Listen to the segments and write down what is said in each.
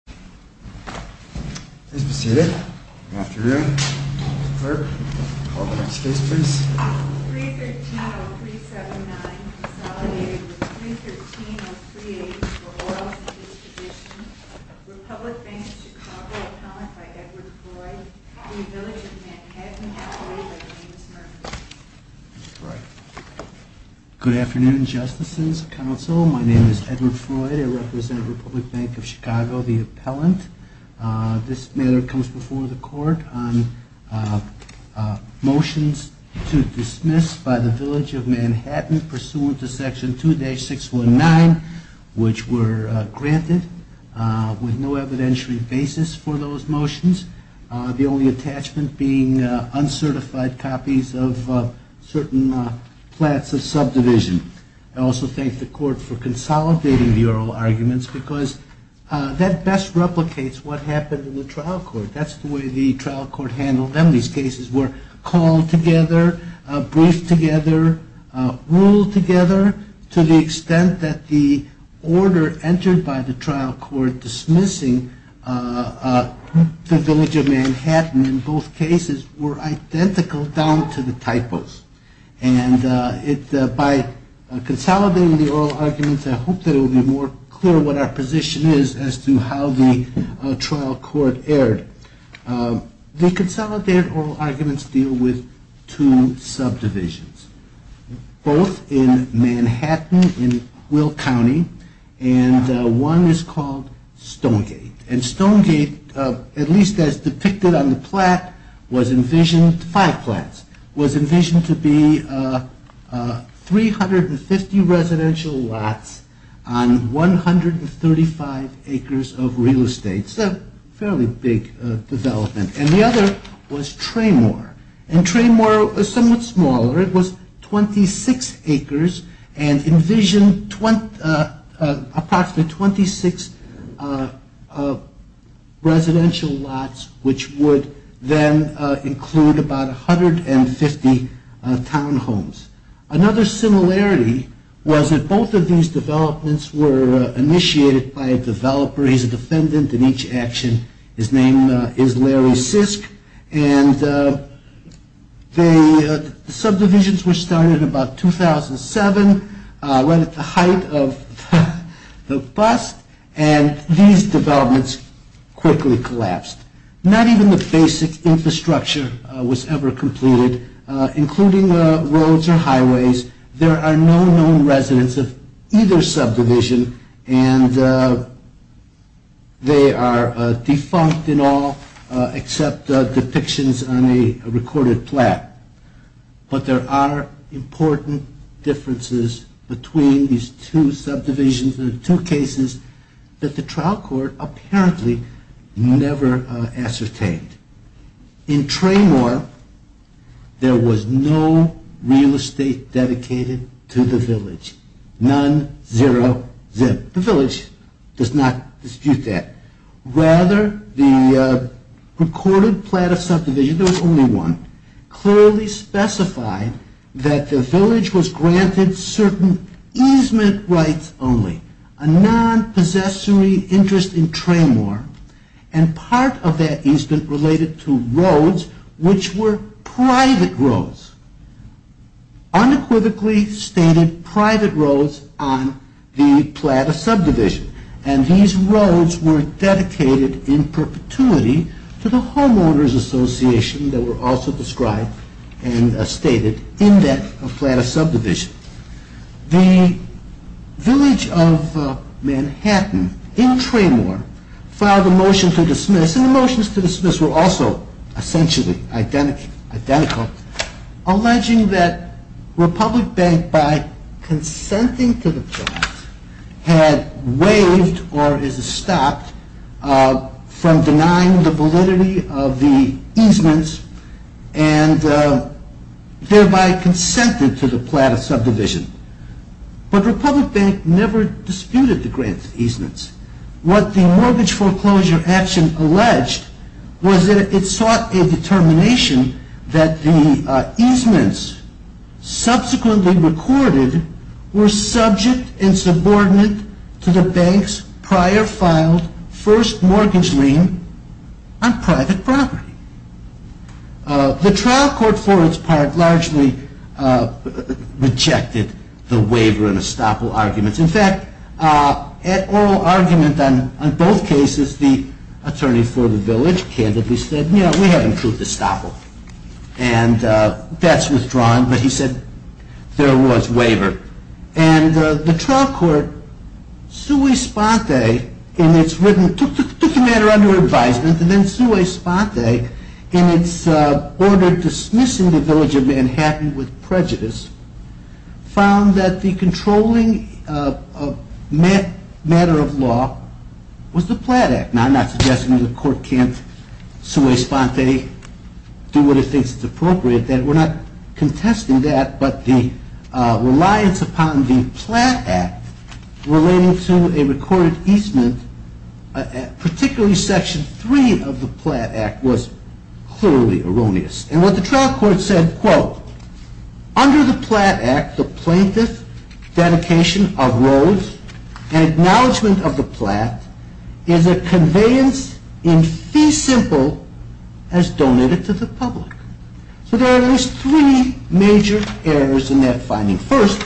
313-0379 consolidated with 313-038 for oils and distribution. Republic Bank of Chicago. Accounted by Edward Floyd v. Village of Manhattan. Good afternoon, justices, counsel. My name is Edward Floyd. I represent Republic Bank of Chicago, the appellant. This matter comes before the court on motions to dismiss by the Village of Manhattan pursuant to Section 2-619, which were granted with no evidentiary basis for those motions. The only attachment being uncertified copies of certain plats of subdivision. I also thank the court for consolidating the oral arguments because that best replicates what happened in the trial court. That's the way the trial court handled them. These cases were called together, briefed together, ruled together to the extent that the order entered by the trial court dismissing the Village of Manhattan in both cases were identical down to the typos. And by consolidating the oral arguments, I hope that it will be more clear what our position is as to how the trial court erred. The consolidated oral arguments deal with two subdivisions. Both in Manhattan, in Will County, and one is called Stonegate. And Stonegate, at least as depicted on the plat, was envisioned, five plats, was envisioned to be 350 residential lots on 135 acres of real estate. So fairly big development. And the other was Tremor. And Tremor was somewhat smaller. It was 26 acres and envisioned approximately 26 residential lots, which would then include about 150 townhomes. Another similarity was that both of these developments were initiated by a developer. He's a defendant in each action. His name is Larry Sisk. And the subdivisions were started in about 2007, right at the height of the bust, and these developments quickly collapsed. Not even the basic infrastructure was ever completed, including roads or highways. There are no known residents of either subdivision, and they are defunct in all except depictions on a recorded plat. But there are important differences between these two subdivisions and the two cases that the trial court apparently never ascertained. In Tremor, there was no real estate dedicated to the village. None, zero, zip. The village does not dispute that. Rather, the recorded plat of subdivision, there was only one, clearly specified that the village was granted certain easement rights only, a non-possessory interest in Tremor, and part of that easement related to roads which were private roads, unequivocally stated private roads on the plat of subdivision. And these roads were dedicated in perpetuity to the homeowners association that were also described and stated in that plat of subdivision. The village of Manhattan in Tremor filed a motion to dismiss, and the motions to dismiss were also essentially identical, alleging that Republic Bank, by consenting to the plat, had waived or is it stopped from denying the validity of the easements and thereby consented to the plat of subdivision. But Republic Bank never disputed the grant easements. What the mortgage foreclosure action alleged was that it sought a determination that the easements subsequently recorded were subject and subordinate to the bank's prior filed first mortgage lien on private property. The trial court for its part largely rejected the waiver and estoppel arguments. In fact, at oral argument on both cases, the attorney for the village candidly said, no, we haven't proved estoppel. And that's withdrawn, but he said there was waiver. And the trial court, sui sponte, took the matter under advisement, and then sui sponte, in its order dismissing the village of Manhattan with prejudice, found that the controlling matter of law was the plat act. Now, I'm not suggesting that the court can't sui sponte, do what it thinks is appropriate. We're not contesting that, but the reliance upon the plat act relating to a recorded easement, particularly section 3 of the plat act, was clearly erroneous. And what the trial court said, quote, under the plat act, the plaintiff's dedication of roads and acknowledgement of the plat is a conveyance in fee simple as donated to the public. So there are at least three major errors in that finding. First,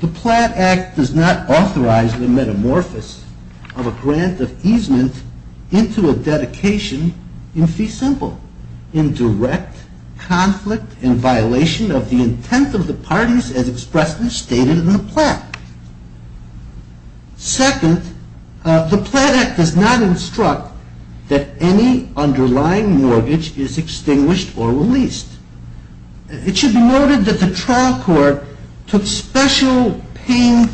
the plat act does not authorize the metamorphosis of a grant of easement into a dedication in fee simple in direct conflict and violation of the intent of the parties as expressly stated in the plat. Second, the plat act does not instruct that any underlying mortgage is extinguished or released. It should be noted that the trial court took special pain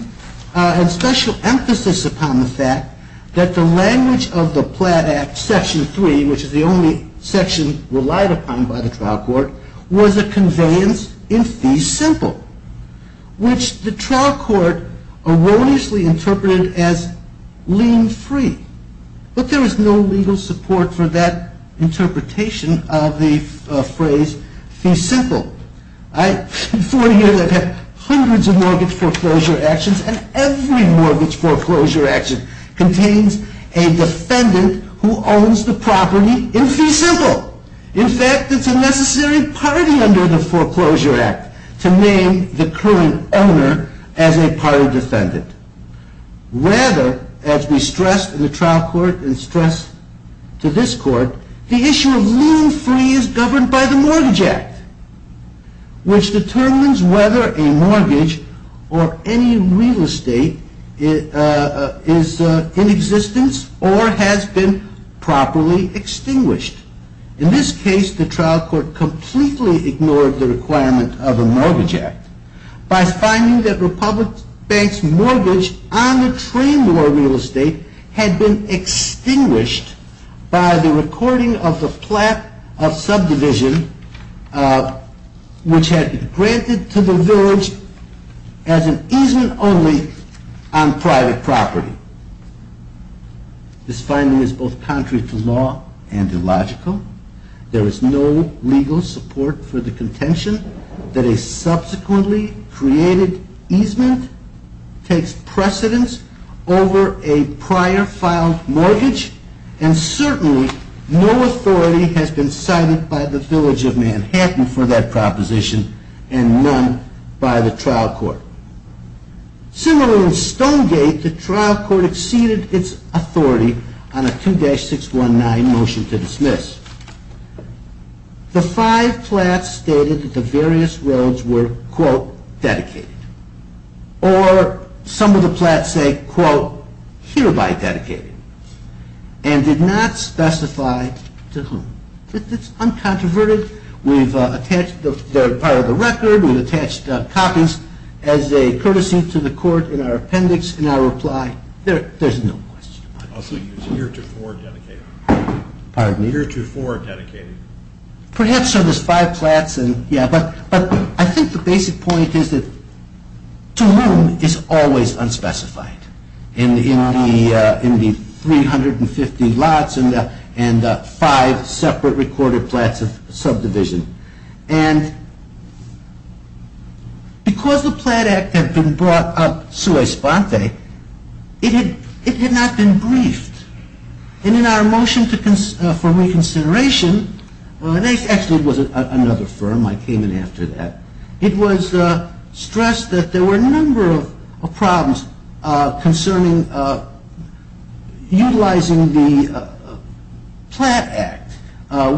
and special emphasis upon the fact that the language of the plat act, section 3, which is the only section relied upon by the trial court, was a conveyance in fee simple, which the trial court did not use. And third, the trial court erroneously interpreted it as lien free. But there is no legal support for that interpretation of the phrase fee simple. In 40 years, I've had hundreds of mortgage foreclosure actions, and every mortgage foreclosure action contains a defendant who owns the property in fee simple. In fact, it's a necessary party under the foreclosure act to name the current owner as a party defendant. Rather, as we stressed in the trial court and stressed to this court, the issue of lien free is governed by the Mortgage Act, which determines whether a mortgage or any real estate is in existence or has been properly extinguished. In this case, the trial court completely ignored the requirement of the Mortgage Act by finding that Republic Bank's mortgage on the train to a real estate had been extinguished by the recording of the plat of subdivision which had been granted to the village as an easement only on private property. This finding is both contrary to law and illogical. There is no legal support for the contention that a subsequently created easement takes precedence over a prior filed mortgage, and certainly no authority has been cited by the village of Manhattan for that proposition and none by the trial court. Similarly, in Stonegate, the trial court exceeded its authority on a 2-619 motion to dismiss. The five plats stated that the various roads were, quote, dedicated, or some of the plats say, quote, hereby dedicated, and did not specify to whom. It's uncontroverted. They're part of the record. We've attached copies as a courtesy to the court in our appendix and our reply. There's no question about it. I think the basic point is that to whom is always unspecified in the 350 lots and the five separate recorded plats of subdivision. And because the Plat Act had been brought up sui sponte, it had not been briefed. And in our motion for reconsideration, well, it actually was another firm. I came in after that. It was stressed that there were a number of problems concerning utilizing the Plat Act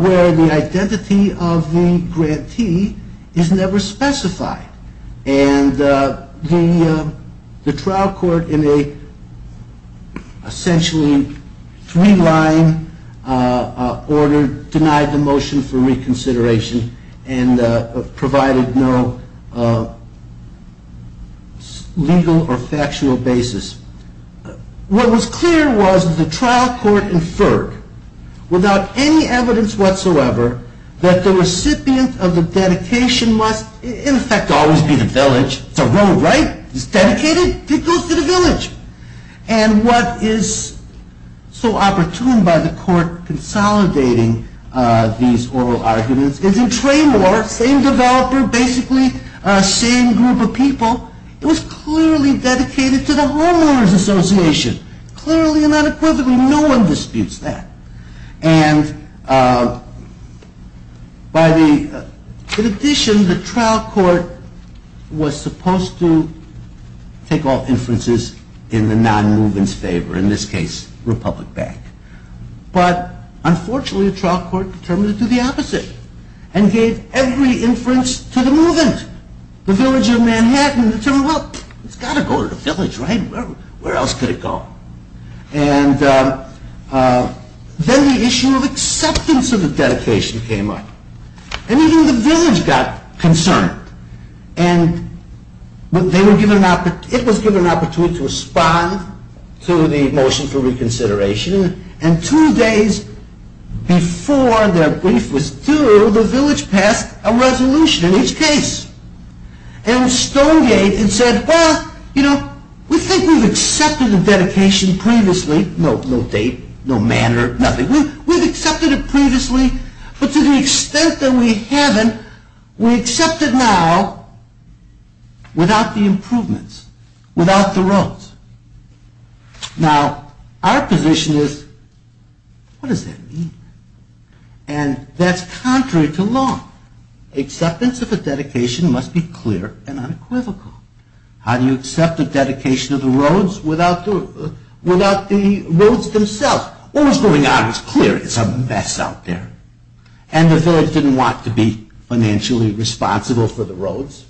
where the identity of the grantee is never specified. And the trial court, in a essentially three-line order, denied the motion for reconsideration and provided no legal or factual basis. What was clear was that the trial court inferred, without any evidence whatsoever, that the recipient of the dedication must, in effect, always be the village. It's a road, right? It's dedicated? It goes to the village. And what is so opportune by the court consolidating these oral arguments is in Tremor, same developer, basically same group of people, it was clearly dedicated to the homeowners association. Clearly and unequivocally, no one disputes that. And in addition, the trial court was supposed to take all inferences in the non-movement's favor, in this case, Republic Bank. But unfortunately, the trial court determined to do the opposite and gave every inference to the movement. The village of Manhattan determined, well, it's got to go to the village, right? Where else could it go? And then the issue of acceptance of the dedication came up. And even the village got concerned. And it was given an opportunity to respond to the motion for reconsideration. And two days before their brief was due, the village passed a resolution in each case. And Stonegate said, well, you know, we think we've accepted the dedication previously. No date, no manner, nothing. We've accepted it previously, but to the extent that we haven't, we accept it now without the improvements, without the roads. Now, our position is, what does that mean? And that's contrary to law. Acceptance of a dedication must be clear and unequivocal. How do you accept the dedication of the roads without the roads themselves? Well, what was going on was clear. It's a mess out there. And the village didn't want to be financially responsible for the roads,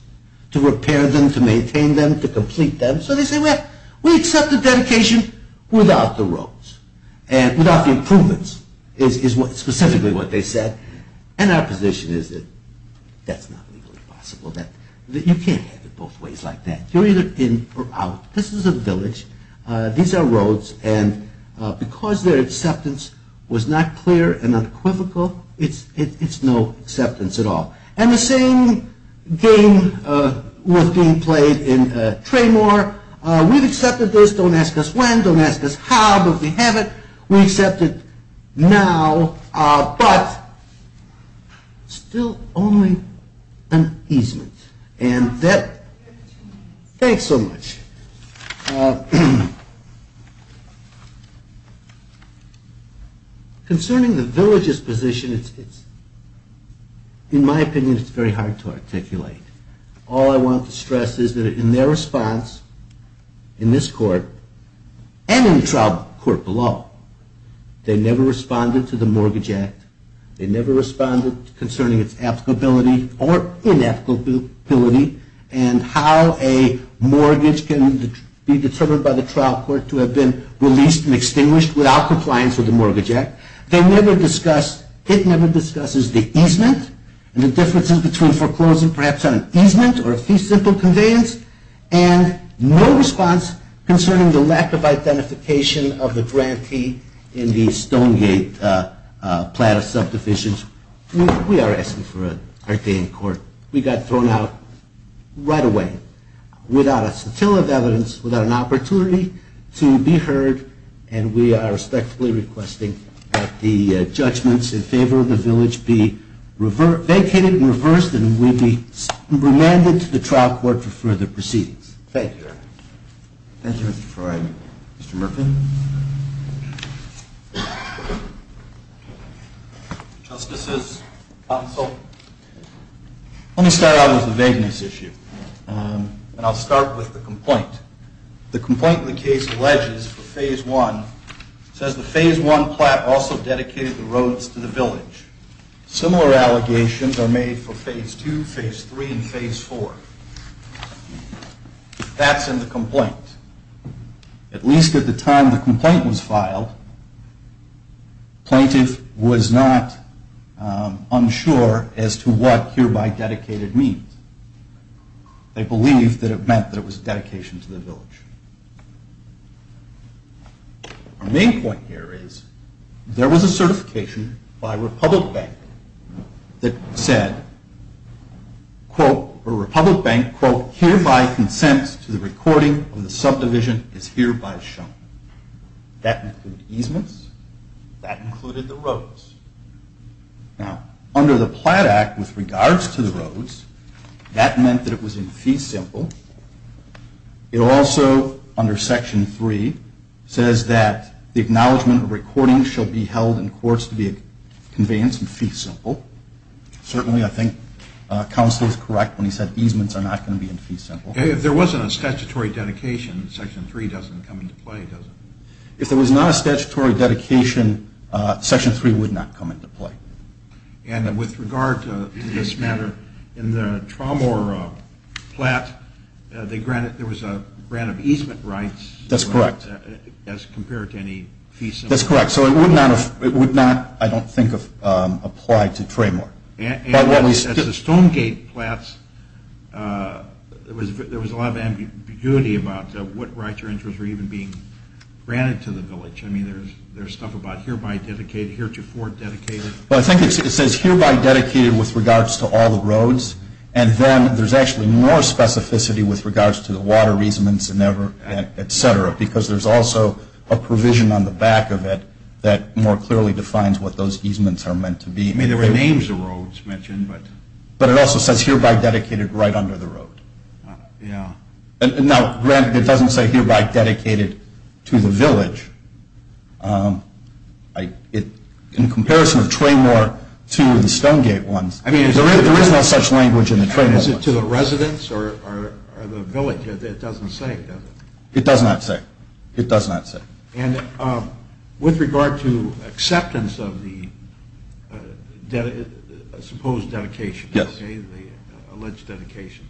to repair them, to maintain them, to complete them. So they said, well, we accept the dedication without the roads, without the improvements, is specifically what they said. And our position is that that's not legally possible. You can't have it both ways like that. You're either in or out. This is a village. These are roads. And because their acceptance was not clear and unequivocal, it's no acceptance at all. And the same game was being played in Tremor. We've accepted this. Don't ask us when, don't ask us how, but we have it. We accept it now, but still only an easement. And that, thanks so much. Okay. Concerning the village's position, in my opinion, it's very hard to articulate. All I want to stress is that in their response, in this court, and in the trial court below, they never responded to the Mortgage Act. They never responded concerning its applicability or inapplicability and how a mortgage can be determined by the trial court to have been released and extinguished without compliance with the Mortgage Act. They never discussed, it never discusses the easement and the differences between foreclosing perhaps on an easement or a fee-simple conveyance, and no response concerning the lack of identification of the grantee in the Stonegate plat of subdivisions. We are asking for a day in court. We got thrown out right away without a scintilla of evidence, without an opportunity to be heard, and we are respectfully requesting that the judgments in favor of the village be vacated and reversed, and we be remanded to the trial court for further proceedings. Thank you. Thank you, Mr. Troy. Mr. Murfin? Justices, counsel, let me start out with the vagueness issue, and I'll start with the complaint. The complaint in the case alleges for Phase I says the Phase I plat also dedicated the roads to the village. Similar allegations are made for Phase II, Phase III, and Phase IV. That's in the complaint. At least at the time the complaint was filed, plaintiff was not unsure as to what hereby dedicated means. They believed that it meant that it was dedication to the village. Our main point here is there was a certification by Republic Bank that said, quote, or Republic Bank, quote, hereby consents to the recording of the subdivision is hereby shown. That included easements. That included the roads. Now, under the Plat Act, with regards to the roads, that meant that it was in fee simple. It also, under Section III, says that the acknowledgement of recordings shall be held in courts to be a conveyance in fee simple. Certainly, I think counsel is correct when he said easements are not going to be in fee simple. If there wasn't a statutory dedication, Section III doesn't come into play, does it? If there was not a statutory dedication, Section III would not come into play. And with regard to this matter, in the Traymore plat, there was a grant of easement rights. That's correct. As compared to any fee simple. That's correct. So it would not, I don't think, apply to Traymore. At the Stonegate plats, there was a lot of ambiguity about what rights or interests were even being granted to the village. I mean, there's stuff about hereby dedicated, heretofore dedicated. Well, I think it says hereby dedicated with regards to all the roads, and then there's actually more specificity with regards to the water easements, et cetera, because there's also a provision on the back of it that more clearly defines what those easements are meant to be. It names the roads mentioned. But it also says hereby dedicated right under the road. Yeah. Now, granted, it doesn't say hereby dedicated to the village. In comparison of Traymore to the Stonegate ones, there is no such language in the Traymore ones. Is it to the residents or the village? It doesn't say, does it? It does not say. It does not say. And with regard to acceptance of the supposed dedication, the alleged dedication,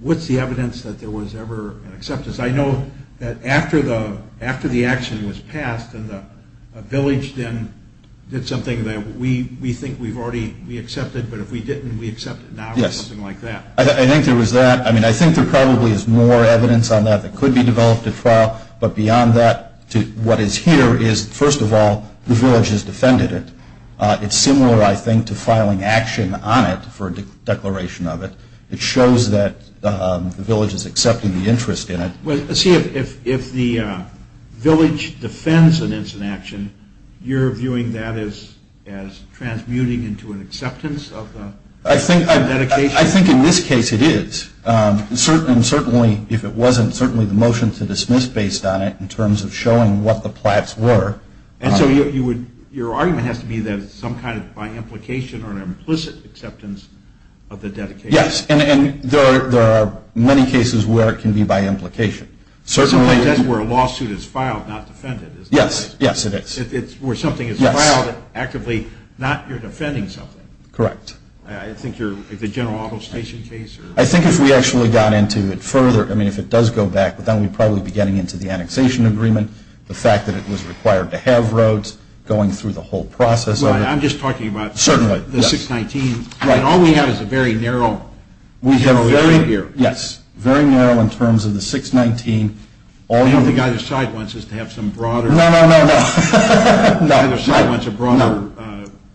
what's the evidence that there was ever an acceptance? I know that after the action was passed and the village then did something that we think we've already accepted, but if we didn't, we accept it now or something like that. I think there was that. I mean, I think there probably is more evidence on that that could be developed at trial. But beyond that, what is here is, first of all, the village has defended it. It's similar, I think, to filing action on it for a declaration of it. It shows that the village is accepting the interest in it. See, if the village defends an incident action, you're viewing that as transmuting into an acceptance of the dedication? I think in this case it is. And certainly if it wasn't, certainly the motion to dismiss based on it in terms of showing what the plats were. And so your argument has to be that it's some kind of by implication or an implicit acceptance of the dedication. Yes, and there are many cases where it can be by implication. Certainly that's where a lawsuit is filed, not defended, isn't it? Yes, yes, it is. It's where something is filed actively, not you're defending something. Correct. I think you're, like the General Auto Station case? I think if we actually got into it further, I mean, if it does go back, then we'd probably be getting into the annexation agreement, the fact that it was required to have roads, going through the whole process of it. I'm just talking about the 619. Certainly, yes. All we have is a very narrow. Yes, very narrow in terms of the 619. I don't think either side wants us to have some broader. No, no, no, no. Neither side wants a broader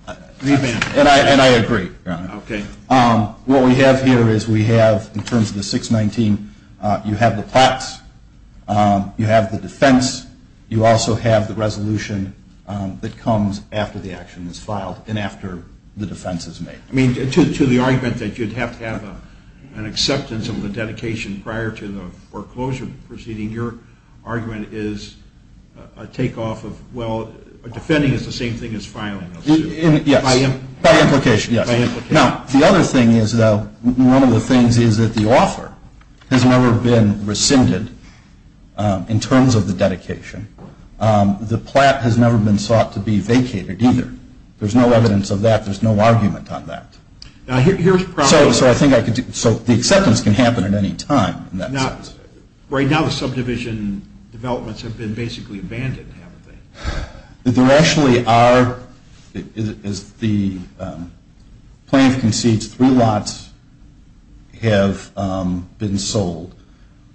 agreement. And I agree. Okay. What we have here is we have, in terms of the 619, you have the plaques, you have the defense, you also have the resolution that comes after the action is filed and after the defense is made. I mean, to the argument that you'd have to have an acceptance of the dedication prior to the foreclosure proceeding, your argument is a takeoff of, well, defending is the same thing as filing a lawsuit. Yes. By implication. By implication, yes. Now, the other thing is, though, one of the things is that the offer has never been rescinded in terms of the dedication. The plat has never been sought to be vacated either. There's no evidence of that. There's no argument on that. Now, here's the problem. So the acceptance can happen at any time in that sense. Right now the subdivision developments have been basically abandoned, haven't they? There actually are, as the plan concedes, three lots have been sold.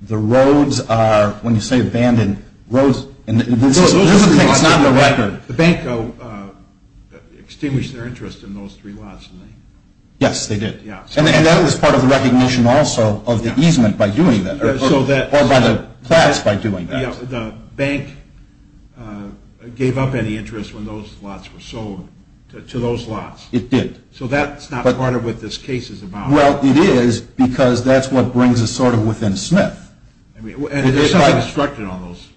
The roads are, when you say abandoned, roads, and this is not the record. The bank extinguished their interest in those three lots. Yes, they did. And that was part of the recognition also of the easement by doing that, or by the plats by doing that. The bank gave up any interest when those lots were sold to those lots. It did. So that's not part of what this case is about. Well, it is, because that's what brings us sort of within Smith. And there's something structured on those.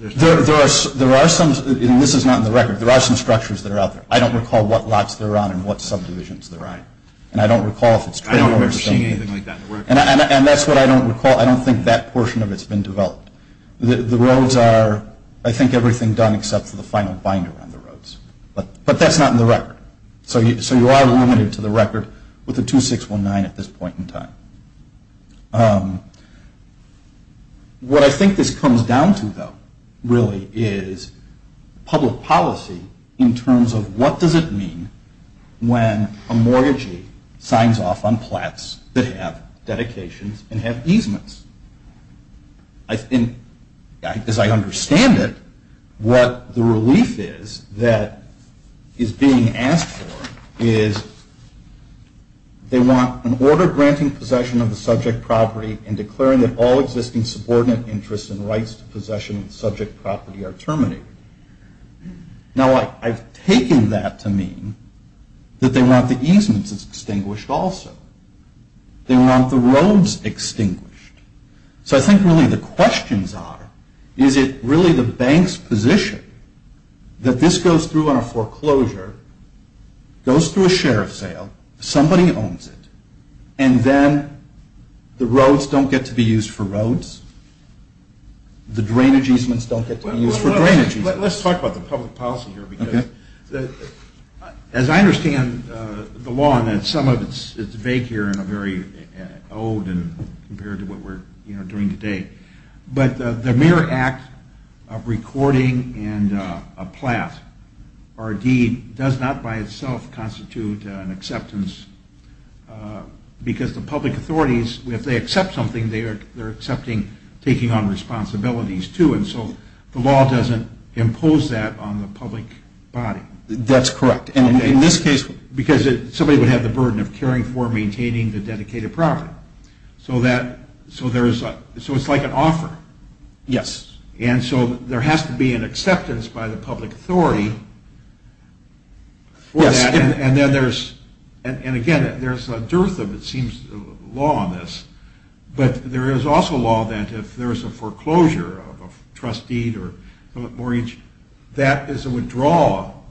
There are some, and this is not in the record, there are some structures that are out there. I don't recall what lots they're on and what subdivisions they're on. And I don't recall if it's trade or something. I don't remember seeing anything like that in the record. And that's what I don't recall. I don't think that portion of it's been developed. The roads are, I think, everything done except for the final binder on the roads. But that's not in the record. So you are limited to the record with the 2619 at this point in time. What I think this comes down to, though, really, is public policy in terms of what does it mean when a mortgagee signs off on plats that have dedications and have easements? As I understand it, what the relief is that is being asked for is they want an order granting possession of the subject property and declaring that all existing subordinate interests and rights to possession of the subject property are terminated. Now, I've taken that to mean that they want the easements extinguished also. They want the roads extinguished. So I think really the questions are, is it really the bank's position that this goes through on a foreclosure, goes through a share of sale, somebody owns it, and then the roads don't get to be used for roads, the drainage easements don't get to be used for drainage easements? Let's talk about the public policy here. As I understand the law, and some of it is vague here and very old compared to what we're doing today, but the mere act of recording and a plat or a deed does not by itself constitute an acceptance because the public authorities, if they accept something, they're accepting taking on responsibilities too, and so the law doesn't impose that on the public body. That's correct. Because somebody would have the burden of caring for and maintaining the dedicated property. So it's like an offer. Yes. And so there has to be an acceptance by the public authority for that, and again, there's a dearth of, it seems, law on this, but there is also law that if there's a foreclosure of a trust deed or mortgage, that is a withdrawal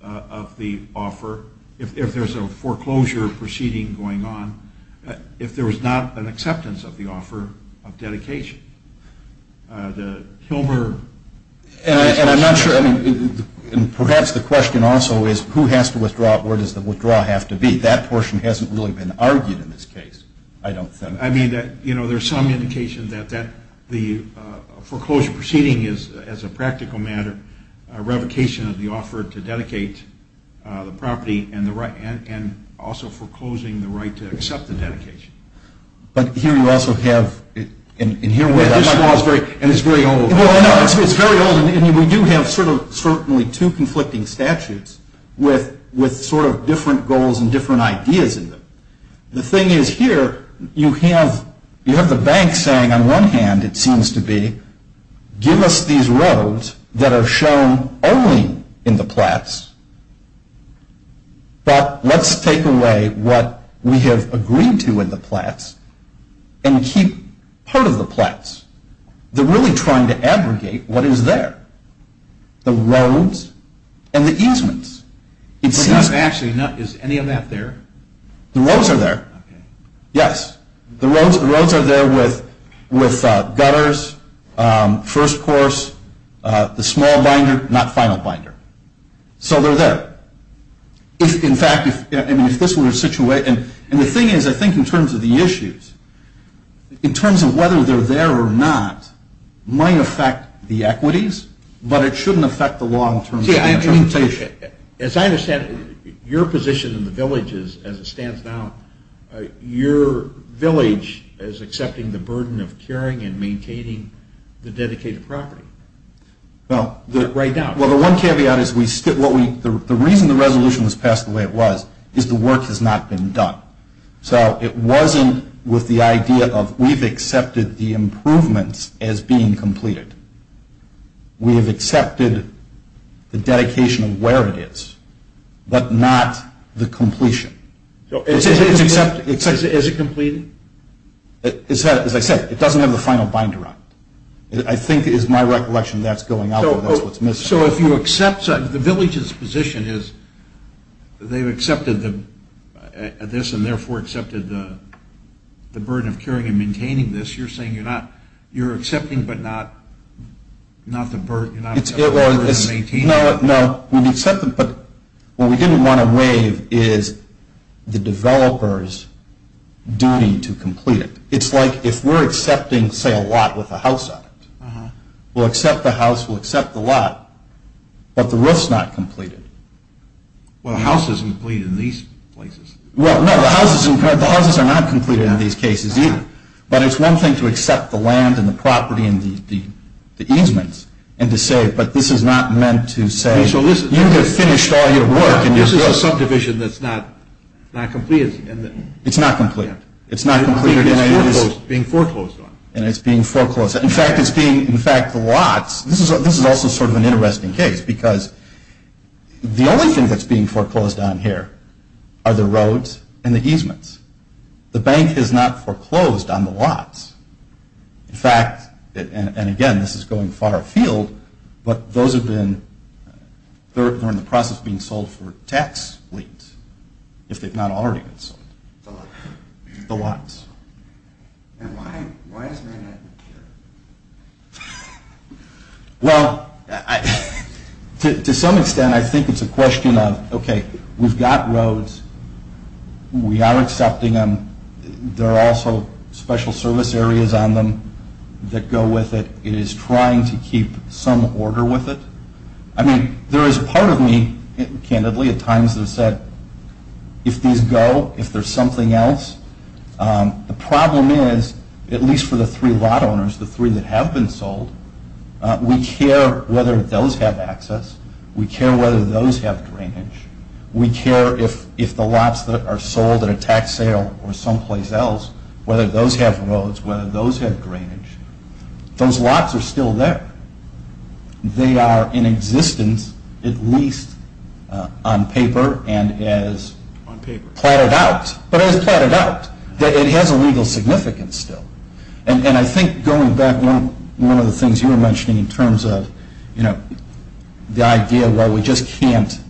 of the offer if there's a foreclosure proceeding going on, if there was not an acceptance of the offer of dedication. The Hilmer... And I'm not sure, and perhaps the question also is who has to withdraw, where does the withdrawal have to be? That portion hasn't really been argued in this case, I don't think. I mean, you know, there's some indication that the foreclosure proceeding is, as a practical matter, a revocation of the offer to dedicate the property and also foreclosing the right to accept the dedication. But here you also have, and here... It's very old, and we do have sort of certainly two conflicting statutes with sort of different goals and different ideas in them. The thing is here, you have the bank saying on one hand, it seems to be, give us these roads that are shown only in the plats, but let's take away what we have agreed to in the plats and keep part of the plats. They're really trying to abrogate what is there, the roads and the easements. It seems... But not actually, is any of that there? The roads are there, yes. The roads are there with gutters, first course, the small binder, not final binder. So they're there. In fact, if this were a situation... And the thing is, I think in terms of the issues, in terms of whether they're there or not, might affect the equities, but it shouldn't affect the law in terms of the interpretation. As I understand it, your position in the village is, as it stands now, your village is accepting the burden of curing and maintaining the dedicated property. Right now. Well, the one caveat is the reason the resolution was passed the way it was is the work has not been done. So it wasn't with the idea of we've accepted the improvements as being completed. We have accepted the dedication of where it is, but not the completion. Is it completed? As I said, it doesn't have the final binder on it. I think it is my recollection that's going out where that's what's missing. So if you accept the village's position is they've accepted this and therefore accepted the burden of curing and maintaining this, you're saying you're accepting but not the burden of maintaining it? No, we've accepted, but what we didn't want to waive is the developer's duty to complete it. It's like if we're accepting, say, a lot with a house on it. We'll accept the house, we'll accept the lot, but the roof's not completed. Well, the house isn't completed in these places. Well, no, the houses are not completed in these cases either. But it's one thing to accept the land and the property and the easements and to say, but this is not meant to say you have finished all your work. This is a subdivision that's not completed. It's not completed. It's being foreclosed on. And it's being foreclosed. In fact, the lots, this is also sort of an interesting case because the only thing that's being foreclosed on here are the roads and the easements. The bank has not foreclosed on the lots. In fact, and again, this is going far afield, but those have been, they're in the process of being sold for tax liens if they've not already been sold, the lots. And why isn't that here? Well, to some extent, I think it's a question of, okay, we've got roads. We are accepting them. There are also special service areas on them that go with it. It is trying to keep some order with it. I mean, there is part of me, candidly, at times has said, if these go, if there's something else, the problem is, at least for the three lot owners, the three that have been sold, we care whether those have access. We care whether those have drainage. We care if the lots that are sold at a tax sale or someplace else, whether those have roads, whether those have drainage. Those lots are still there. They are in existence at least on paper and as platted out. But as platted out, it has a legal significance still. And I think going back, one of the things you were mentioning in terms of, you know, the idea where we just can't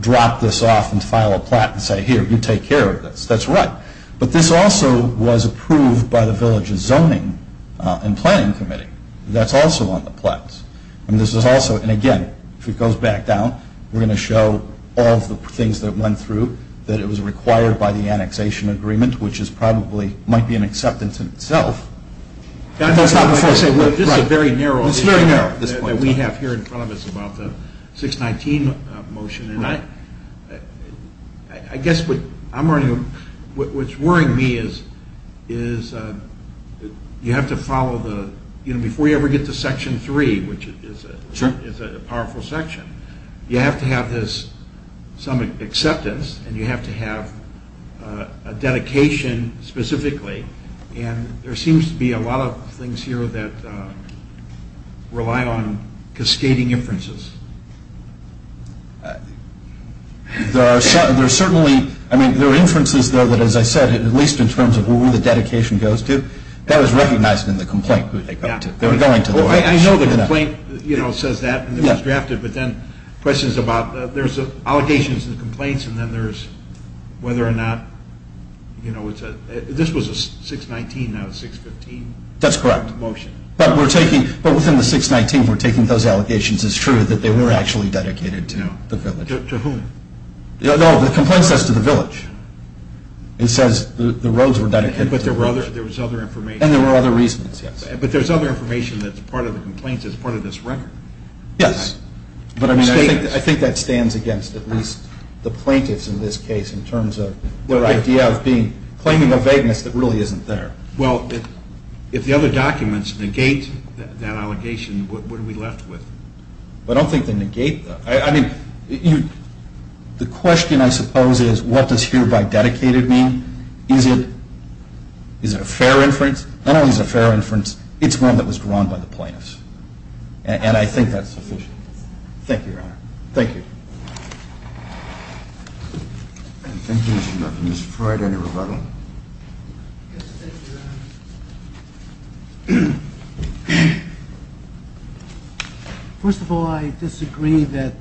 drop this off and file a plat and say, here, you take care of this. That's right. But this also was approved by the Villages Zoning and Planning Committee. That's also on the plat. And this is also, and again, if it goes back down, we're going to show all of the things that went through, that it was required by the annexation agreement, which is probably, might be an acceptance in itself. This is a very narrow issue that we have here in front of us about the 619 motion. And I guess what's worrying me is you have to follow the, you know, before you ever get to Section 3, which is a powerful section, you have to have this, some acceptance, and you have to have a dedication specifically. And there seems to be a lot of things here that rely on cascading inferences. There are certainly, I mean, there are inferences, though, that as I said, at least in terms of where the dedication goes to, that was recognized in the complaint. I know the complaint, you know, says that, and it was drafted, but then questions about, there's allegations and complaints, and then there's whether or not, you know, this was a 619, now it's 615. That's correct. Motion. But we're taking, but within the 619, we're taking those allegations. It's true that they were actually dedicated to the village. To whom? No, the complaint says to the village. It says the roads were dedicated to the village. But there was other information. And there were other reasons, yes. But there's other information that's part of the complaint that's part of this record. Yes. But I mean, I think that stands against at least the plaintiffs in this case in terms of their idea of being, claiming a vagueness that really isn't there. Well, if the other documents negate that allegation, what are we left with? I don't think they negate that. I mean, the question, I suppose, is what does hereby dedicated mean? Is it a fair inference? Not only is it a fair inference, it's one that was drawn by the plaintiffs. And I think that's sufficient. Thank you, Your Honor. Thank you. Thank you, Mr. McLaughlin. Mr. Freud, any rebuttal? Yes, thank you, Your Honor. First of all, I disagree that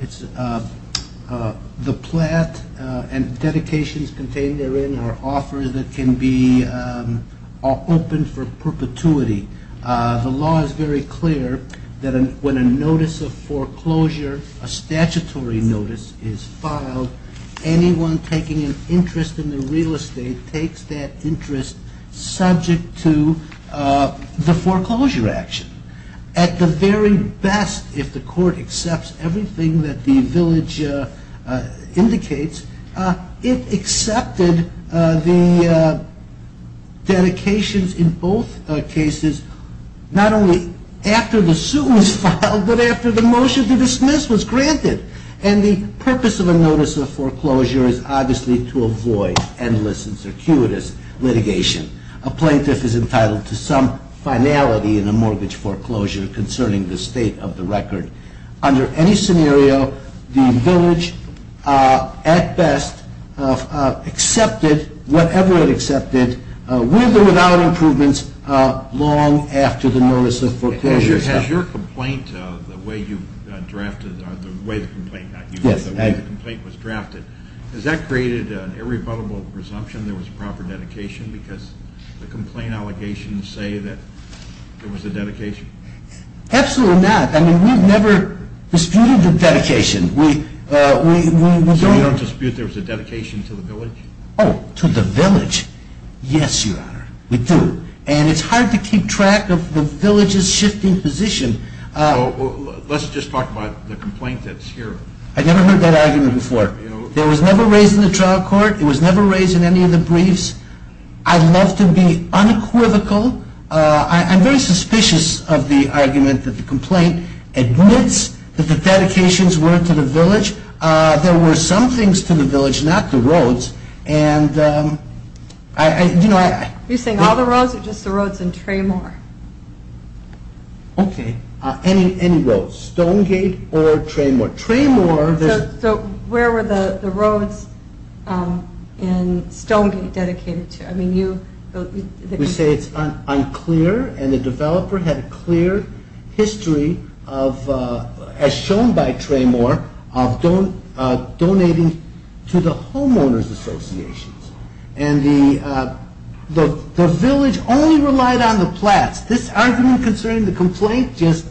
it's the plat and dedications contained therein are offers that can be opened for perpetuity. The law is very clear that when a notice of foreclosure, a statutory notice, is filed, anyone taking an interest in the real estate takes that interest subject to the foreclosure action. At the very best, if the court accepts everything that the village indicates, it accepted the dedications in both cases not only after the suit was filed, but after the motion to dismiss was granted. And the purpose of a notice of foreclosure is obviously to avoid endless and circuitous litigation. A plaintiff is entitled to some finality in a mortgage foreclosure concerning the state of the record. Under any scenario, the village, at best, accepted whatever it accepted, with or without improvements, long after the notice of foreclosure was filed. Has your complaint, the way you drafted it, the way the complaint was drafted, has that created an irrebuttable presumption there was proper dedication because the complaint allegations say that there was a dedication? Absolutely not. I mean, we've never disputed the dedication. So you don't dispute there was a dedication to the village? Oh, to the village? Yes, Your Honor, we do. And it's hard to keep track of the village's shifting position. Let's just talk about the complaint that's here. I've never heard that argument before. It was never raised in the trial court. It was never raised in any of the briefs. I'd love to be unequivocal. I'm very suspicious of the argument that the complaint admits that the dedications were to the village. There were some things to the village, not the roads. Are you saying all the roads or just the roads in Traymore? Okay, any roads, Stonegate or Traymore. So where were the roads in Stonegate dedicated to? We say it's unclear, and the developer had a clear history as shown by Traymore of donating to the homeowners associations. And the village only relied on the plats. This argument concerning the complaint just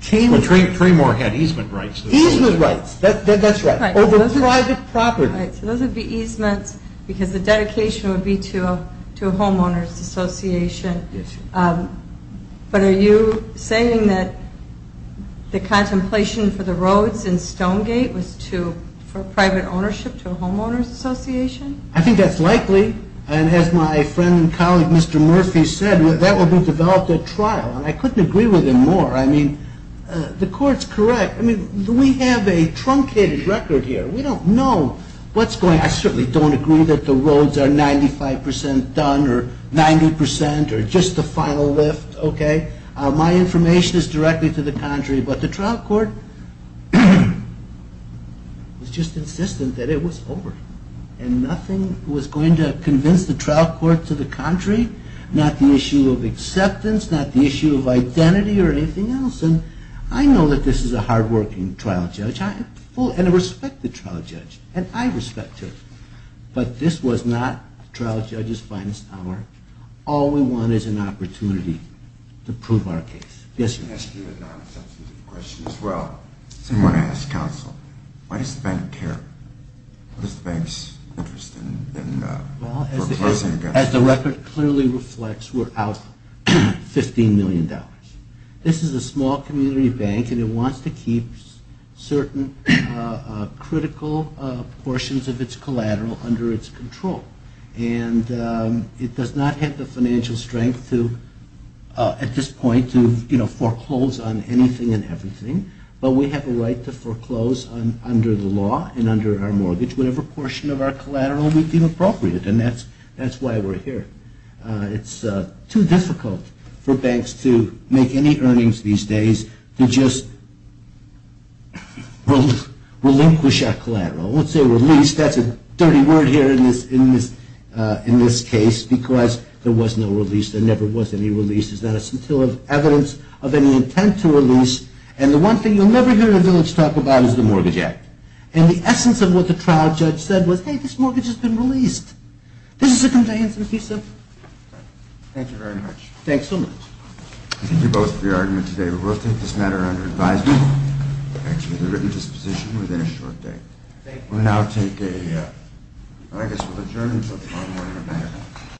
changed. Well, Traymore had easement rights. Easement rights, that's right, over private property. Right, so those would be easements because the dedication would be to a homeowners association. But are you saying that the contemplation for the roads in Stonegate was for private ownership to a homeowners association? I think that's likely, and as my friend and colleague Mr. Murphy said, that would be developed at trial, and I couldn't agree with him more. I mean, the court's correct. I mean, do we have a truncated record here? We don't know what's going on. I certainly don't agree that the roads are 95% done or 90% or just the final lift, okay? My information is directly to the contrary, but the trial court was just insistent that it was over, and nothing was going to convince the trial court to the contrary, not the issue of acceptance, not the issue of identity or anything else. And I know that this is a hard-working trial judge, and I respect the trial judge, and I respect him, but this was not the trial judge's finest hour. All we want is an opportunity to prove our case. Yes, sir? I'm going to ask you a non-substantive question as well. I want to ask counsel, why does the bank care? What is the bank's interest in proposing a gun? Well, as the record clearly reflects, we're out $15 million. This is a small community bank, and it wants to keep certain critical portions of its collateral under its control. And it does not have the financial strength at this point to, you know, foreclose on anything and everything, but we have a right to foreclose under the law and under our mortgage whatever portion of our collateral we deem appropriate, and that's why we're here. It's too difficult for banks to make any earnings these days to just relinquish our collateral. I won't say release. That's a dirty word here in this case because there was no release. There never was any release. There's not a single evidence of any intent to release, and the one thing you'll never hear the village talk about is the Mortgage Act. And the essence of what the trial judge said was, hey, this mortgage has been released. This is a compliance and peace act. Thank you very much. Thanks so much. We can hear both of your arguments today, but we'll take this matter under advisement, thanks to the written disposition, within a short date. We'll now take a, I guess we'll adjourn until tomorrow morning.